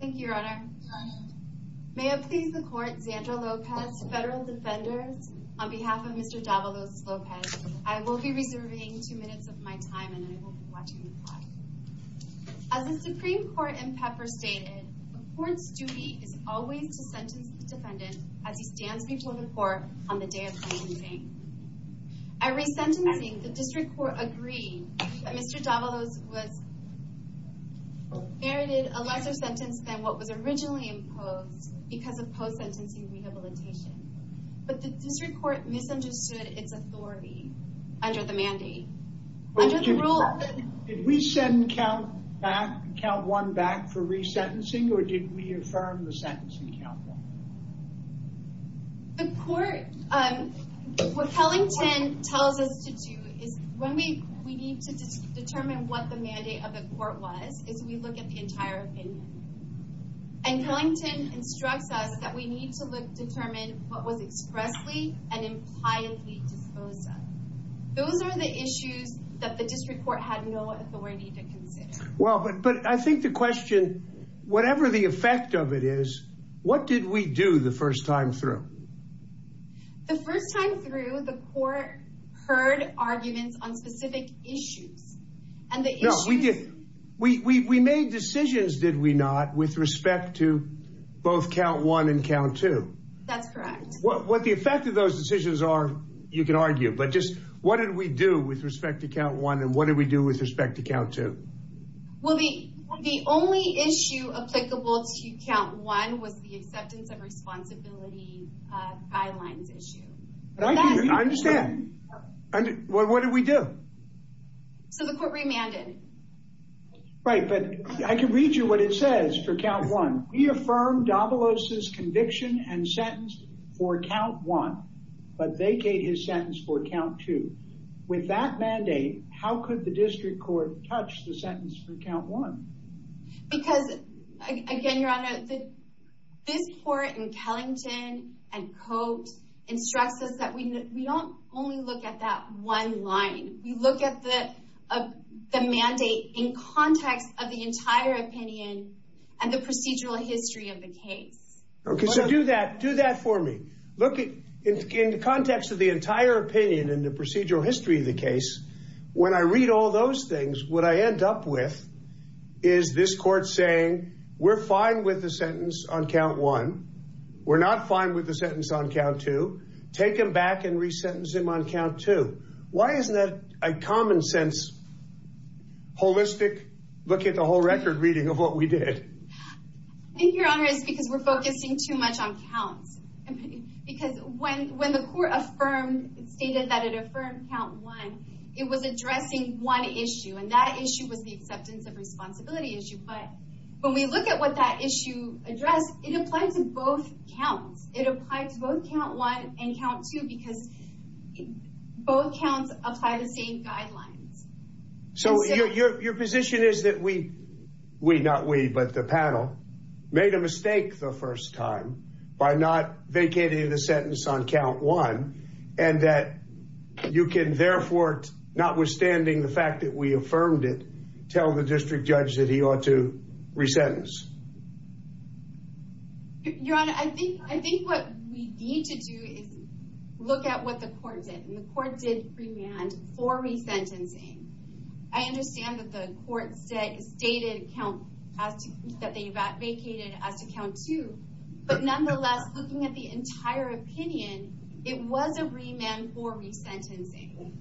Thank you, Your Honor. May it please the Court, Xandra Lopez, Federal Defenders, on behalf of Mr. Davalos-Lopez, I will be reserving two minutes of my time and I will be watching the clock. As the Supreme Court in Pepper stated, the Court's duty is always to sentence the defendant as he stands before the Court on the day of sentencing. At resentencing, the District Court agreed that Mr. Davalos was merited a lesser sentence than what was originally imposed because of post-sentencing rehabilitation. But the District Court misunderstood its authority under the mandate. Under the rule... Did we send count one back for resentencing or did we affirm the sentencing count? The Court... What Kellington tells us to do is, when we need to determine what the mandate of the Court was, is we look at the entire opinion. And Kellington instructs us that we need to determine what was expressly and impliedly disposed of. Those are the issues that the District Court had no authority to consider. Well, but I think the question... Whatever the effect of it is, what did we do the first time through? The first time through, the Court heard arguments on specific issues. And the issues... No, we did... We made decisions, did we not, with respect to both count one and count two? That's correct. What the effect of those decisions are, you can argue. But just what did we do with respect to count one and what did we do with respect to count two? Well, the only issue applicable to count one was the acceptance and responsibility guidelines issue. I understand. What did we do? So the Court remanded. Right, but I can read you what it says for count one. We affirmed Davalos' conviction and sentence for count one, but vacated his sentence for count two. With that mandate, how could the District Court touch the sentence for count one? Because, again, Your Honor, this Court in Kellington and Coates instructs us that we don't only look at that one line. We look at the mandate in context of the entire opinion and the procedural history of the case. Okay, so do that for me. Look in the context of the entire opinion and the procedural history of the case. When I read all those things, what I end up with is this Court saying, We're fine with the sentence on count one. We're not fine with the sentence on count two. Take him back and resentence him on count two. Why isn't that a common-sense, holistic, look-at-the-whole-record reading of what we did? I think, Your Honor, it's because we're focusing too much on counts. Because when the Court stated that it affirmed count one, it was addressing one issue, and that issue was the acceptance of responsibility issue. But when we look at what that issue addressed, it applied to both counts. It applied to both count one and count two because both counts apply the same guidelines. So your position is that we, not we, but the panel, made a mistake the first time by not vacating the sentence on count one, and that you can therefore, notwithstanding the fact that we affirmed it, tell the district judge that he ought to resentence? Your Honor, I think what we need to do is look at what the Court did, and the Court did remand for resentencing. I understand that the Court stated that they vacated as to count two, but nonetheless, looking at the entire opinion, it was a remand for resentencing.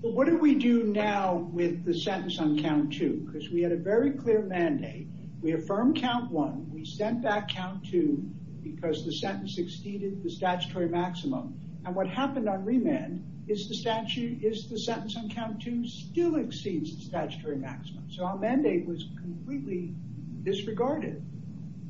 But what do we do now with the sentence on count two? Because we had a very clear mandate. We affirmed count one, we sent back count two because the sentence exceeded the statutory maximum. And what happened on remand is the sentence on count two still exceeds the statutory maximum. So our mandate was completely disregarded.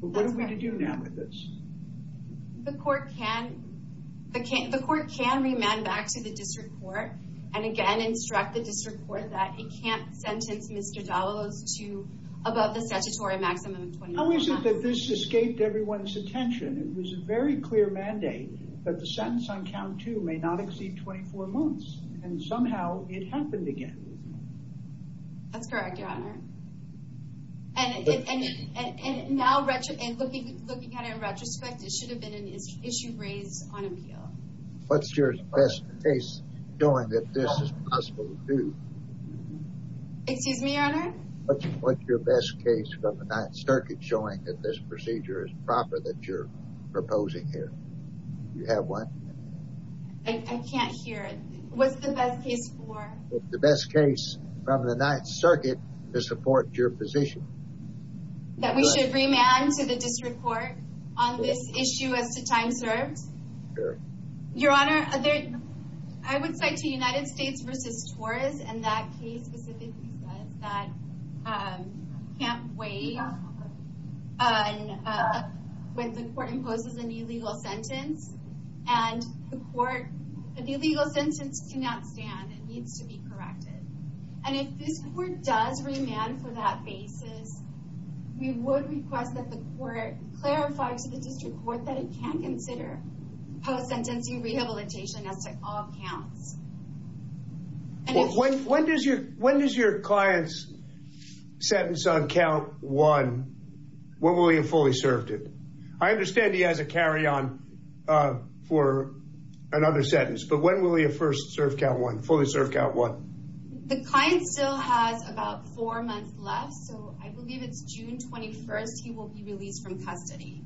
But what are we to do now with this? The Court can remand back to the district court, and again instruct the district court that it can't sentence Mr. Dallolos to above the statutory maximum of 24 months. How is it that this escaped everyone's attention? It was a very clear mandate that the sentence on count two may not exceed 24 months, and somehow it happened again. That's correct, Your Honor. And looking at it in retrospect, it should have been an issue raised on appeal. What's your best case showing that this is possible to do? Excuse me, Your Honor? What's your best case from the Ninth Circuit showing that this procedure is proper that you're proposing here? Do you have one? I can't hear it. What's the best case for? The best case from the Ninth Circuit to support your position. That we should remand to the district court on this issue as to time served? Sure. Your Honor, I would say to United States v. Torres, and that case specifically says that you can't wait when the court imposes an illegal sentence, and the court, an illegal sentence cannot stand. It needs to be corrected. And if this court does remand for that basis, we would request that the court clarify to the district court that it can consider post-sentencing rehabilitation as to all counts. When does your client's sentence on count one, when will he have fully served it? I understand he has a carry-on for another sentence, but when will he have first served count one, fully served count one? The client still has about four months left, so I believe it's June 21st he will be released from custody.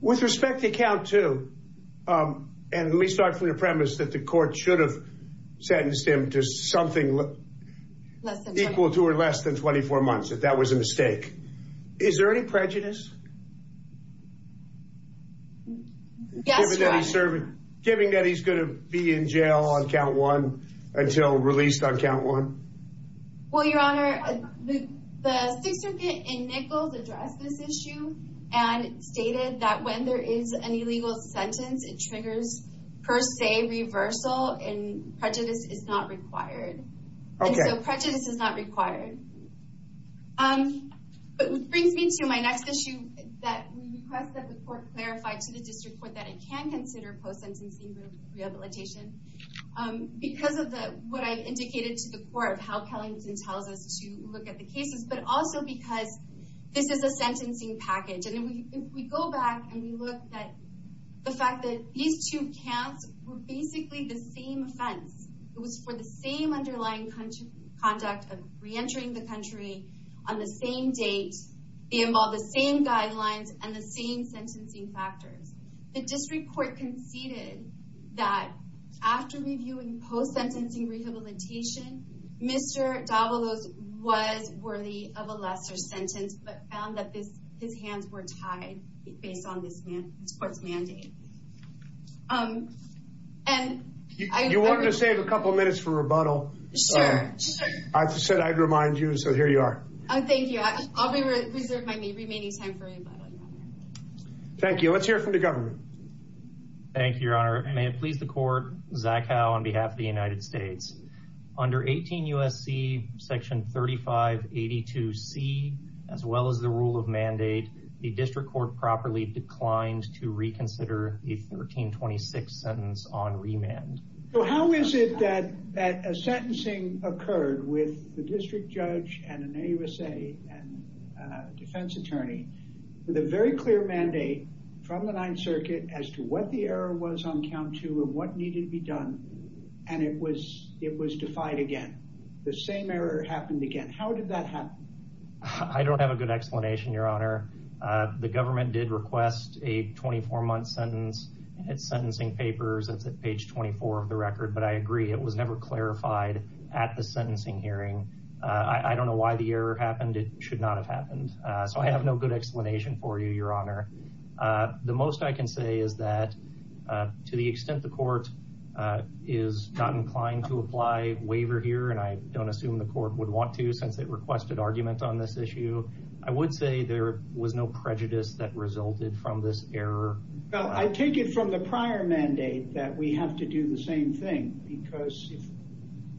With respect to count two, and let me start from your premise that the court should have sentenced him to something equal to or less than 24 months if that was a mistake, is there any prejudice? Yes, Your Honor. Given that he's going to be in jail on count one until released on count one? Well, Your Honor, the Sixth Circuit in Nichols addressed this issue and stated that when there is an illegal sentence, it triggers per se reversal and prejudice is not required. And so prejudice is not required. It brings me to my next issue that we request that the court clarify to the district court that it can consider post-sentencing rehabilitation because of what I've indicated to the court, how Kellington tells us to look at the cases, but also because this is a sentencing package. And if we go back and we look at the fact that these two counts were basically the same offense. It was for the same underlying conduct of reentering the country on the same date. They involve the same guidelines and the same sentencing factors. The district court conceded that after reviewing post-sentencing rehabilitation, Mr. Davalos was worthy of a lesser sentence, but found that his hands were tied based on this court's mandate. You wanted to save a couple minutes for rebuttal. Sure. I said I'd remind you, so here you are. Thank you. Let's hear from the government. Thank you, Your Honor. May it please the court, Zach Howe on behalf of the United States. Under 18 U.S.C. section 3582C, as well as the rule of mandate, the district court properly declined to reconsider the 1326 sentence on remand. So how is it that a sentencing occurred with the district judge and an AUSA defense attorney with a very clear mandate from the Ninth Circuit as to what the error was on count two and what needed to be done, and it was defied again? The same error happened again. How did that happen? I don't have a good explanation, Your Honor. The government did request a 24-month sentence in its sentencing papers. It's at page 24 of the record, but I agree it was never clarified at the sentencing hearing. I don't know why the error happened. It should not have happened. So I have no good explanation for you, Your Honor. The most I can say is that to the extent the court is not inclined to apply waiver here, and I don't assume the court would want to since it requested argument on this issue, I would say there was no prejudice that resulted from this error. Well, I take it from the prior mandate that we have to do the same thing because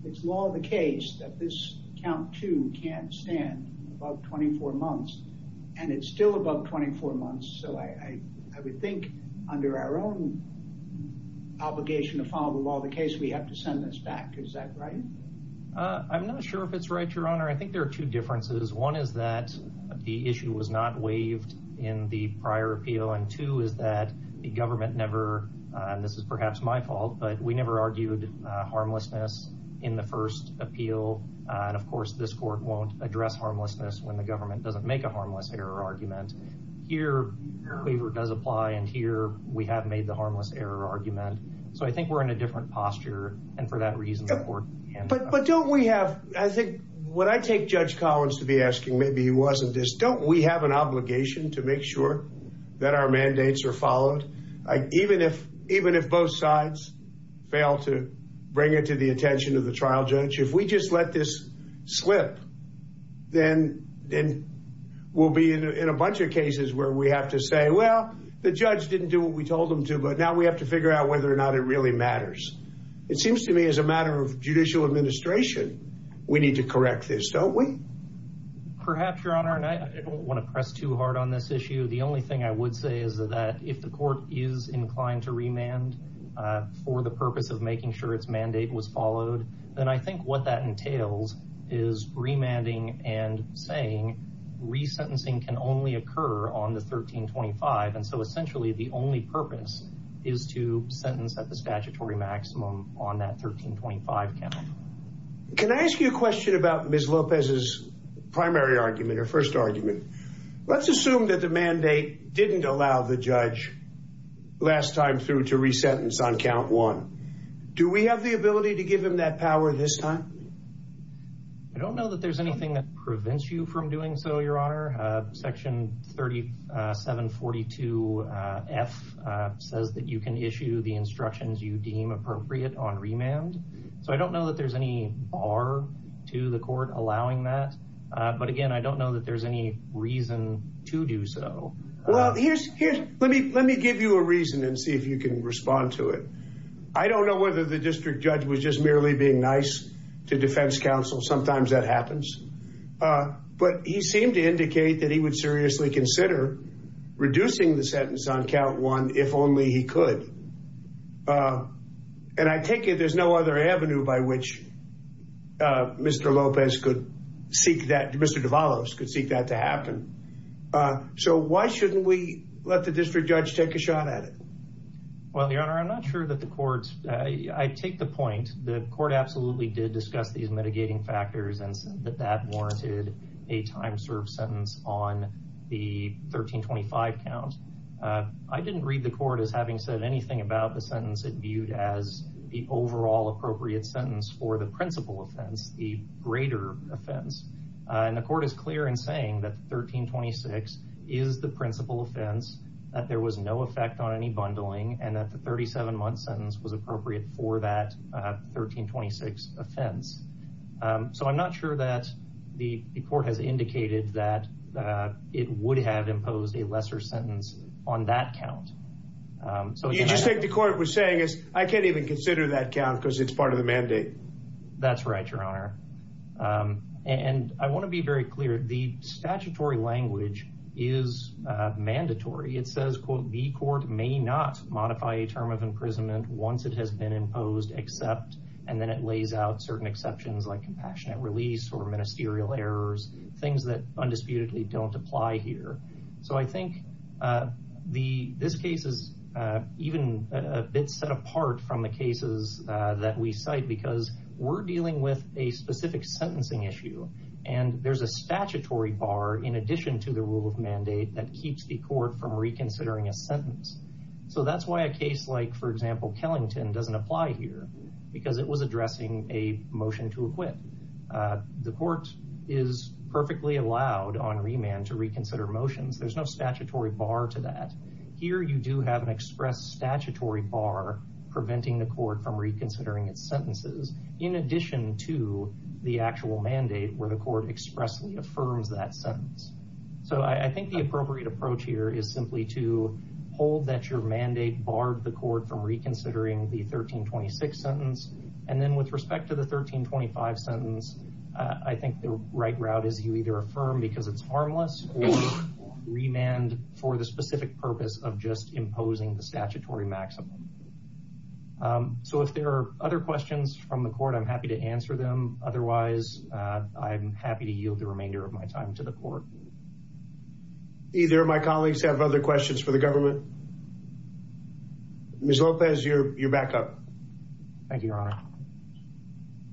it's law of the case that this count two can't stand above 24 months, and it's still above 24 months. So I would think under our own obligation to follow the law of the case, we have to send this back. Is that right? I'm not sure if it's right, Your Honor. I think there are two differences. One is that the issue was not waived in the prior appeal, and two is that the government never, and this is perhaps my fault, but we never argued harmlessness in the first appeal. And, of course, this court won't address harmlessness when the government doesn't make a harmless error argument. Here, waiver does apply, and here we have made the harmless error argument. So I think we're in a different posture, and for that reason, the court can't— But don't we have—I think what I take Judge Collins to be asking, maybe he wasn't, is don't we have an obligation to make sure that our mandates are followed? Even if both sides fail to bring it to the attention of the trial judge, if we just let this slip, then we'll be in a bunch of cases where we have to say, well, the judge didn't do what we told him to, but now we have to figure out whether or not it really matters. It seems to me, as a matter of judicial administration, we need to correct this, don't we? Perhaps, Your Honor, and I don't want to press too hard on this issue. The only thing I would say is that if the court is inclined to remand for the purpose of making sure its mandate was followed, then I think what that entails is remanding and saying resentencing can only occur on the 1325, and so essentially the only purpose is to sentence at the statutory maximum on that 1325 count. Can I ask you a question about Ms. Lopez's primary argument or first argument? Let's assume that the mandate didn't allow the judge last time through to resentence on count one. Do we have the ability to give him that power this time? I don't know that there's anything that prevents you from doing so, Your Honor. Section 3742F says that you can issue the instructions you deem appropriate on remand, so I don't know that there's any bar to the court allowing that, but, again, I don't know that there's any reason to do so. Well, let me give you a reason and see if you can respond to it. I don't know whether the district judge was just merely being nice to defense counsel. Sometimes that happens. But he seemed to indicate that he would seriously consider reducing the sentence on count one if only he could, and I take it there's no other avenue by which Mr. Lopez could seek that, Mr. Devalos could seek that to happen. So why shouldn't we let the district judge take a shot at it? Well, Your Honor, I'm not sure that the court, I take the point. The court absolutely did discuss these mitigating factors and said that that warranted a time-served sentence on the 1325 count. I didn't read the court as having said anything about the sentence it viewed as the overall appropriate sentence for the principal offense, the greater offense, and the court is clear in saying that 1326 is the principal offense, that there was no effect on any bundling, and that the 37-month sentence was appropriate for that 1326 offense. So I'm not sure that the court has indicated that it would have imposed a lesser sentence on that count. You just think the court was saying, I can't even consider that count because it's part of the mandate. That's right, Your Honor. And I want to be very clear, the statutory language is mandatory. It says, quote, the court may not modify a term of imprisonment once it has been imposed except, and then it lays out certain exceptions like compassionate release or ministerial errors, things that undisputedly don't apply here. So I think this case is even a bit set apart from the cases that we cite because we're dealing with a specific sentencing issue, and there's a statutory bar in addition to the rule of mandate that keeps the court from reconsidering a sentence. So that's why a case like, for example, Kellington doesn't apply here because it was addressing a motion to acquit. The court is perfectly allowed on remand to reconsider motions. There's no statutory bar to that. Here you do have an express statutory bar preventing the court from reconsidering its sentences in addition to the actual mandate where the court expressly affirms that sentence. So I think the appropriate approach here is simply to hold that your mandate barred the court from reconsidering the 1326 sentence. And then with respect to the 1325 sentence, I think the right route is you either affirm because it's harmless or remand for the specific purpose of just imposing the statutory maximum. So if there are other questions from the court, I'm happy to answer them. Otherwise, I'm happy to yield the remainder of my time to the court. Either of my colleagues have other questions for the government. Ms. Lopez, you're back up. Thank you, Your Honor.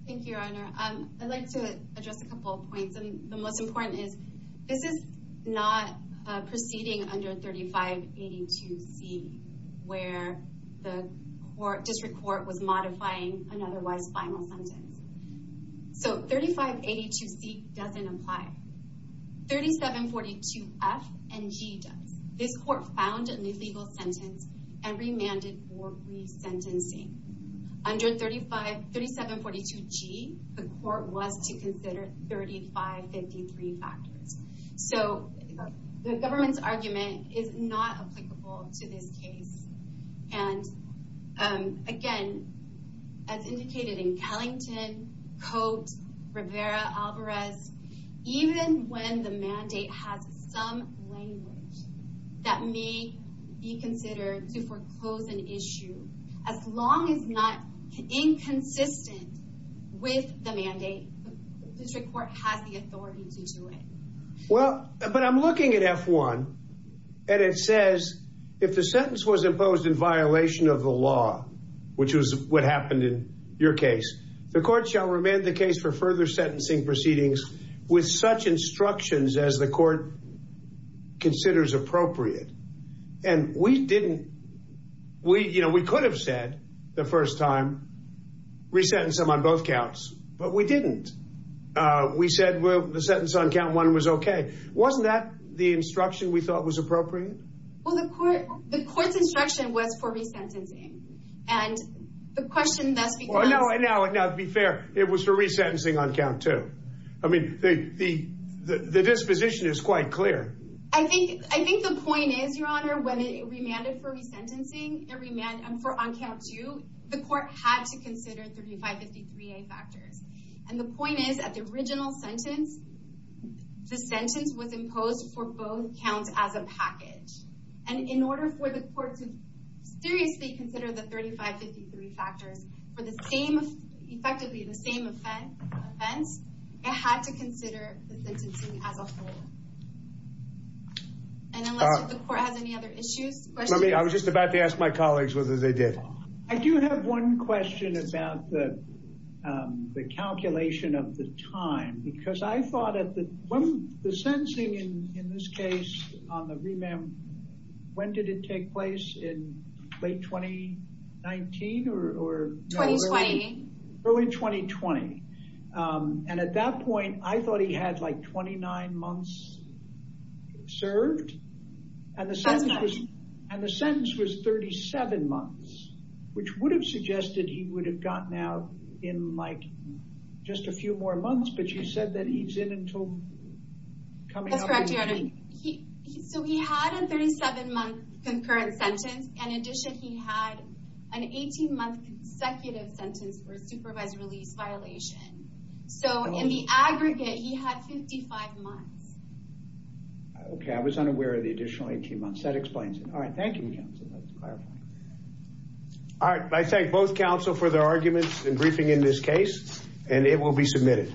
Thank you, Your Honor. I'd like to address a couple of points. The most important is this is not proceeding under 3582C where the district court was modifying an otherwise final sentence. So 3582C doesn't apply. 3742F and G does. This court found an illegal sentence and remanded for resentencing. Under 3742G, the court was to consider 3553 factors. So the government's argument is not applicable to this case. And again, as indicated in Kellington, Cote, Rivera, Alvarez, even when the mandate has some language that may be considered to foreclose an issue, as long as not inconsistent with the mandate, the district court has the authority to do it. Well, but I'm looking at F1. And it says if the sentence was imposed in violation of the law, which is what happened in your case, the court shall remand the case for further sentencing proceedings with such instructions as the court considers appropriate. And we didn't. We you know, we could have said the first time resentencing on both counts. But we didn't. We said, well, the sentence on count one was OK. Wasn't that the instruction we thought was appropriate? Well, the court the court's instruction was for resentencing. And the question that's well, no, no, no. To be fair, it was for resentencing on count two. I mean, the the the disposition is quite clear. I think I think the point is, Your Honor, when it remanded for resentencing, it remanded for on count two. The court had to consider 3553A factors. And the point is, at the original sentence, the sentence was imposed for both counts as a package. And in order for the court to seriously consider the 3553 factors for the same, effectively the same offense, it had to consider the sentencing as a whole. And unless the court has any other issues. Let me I was just about to ask my colleagues whether they did. I do have one question about the calculation of the time, because I thought of the one the sentencing in this case on the remand. When did it take place in late 2019 or early 2020? And at that point, I thought he had like twenty nine months served. And the sentence was 37 months, which would have suggested he would have gotten out in like just a few more months. But you said that he's in until. That's correct, Your Honor. So he had a 37 month concurrent sentence. In addition, he had an 18 month consecutive sentence for supervised release violation. So in the aggregate, he had 55 months. OK, I was unaware of the additional 18 months that explains it. All right. Thank you. All right. I thank both counsel for their arguments and briefing in this case and it will be submitted.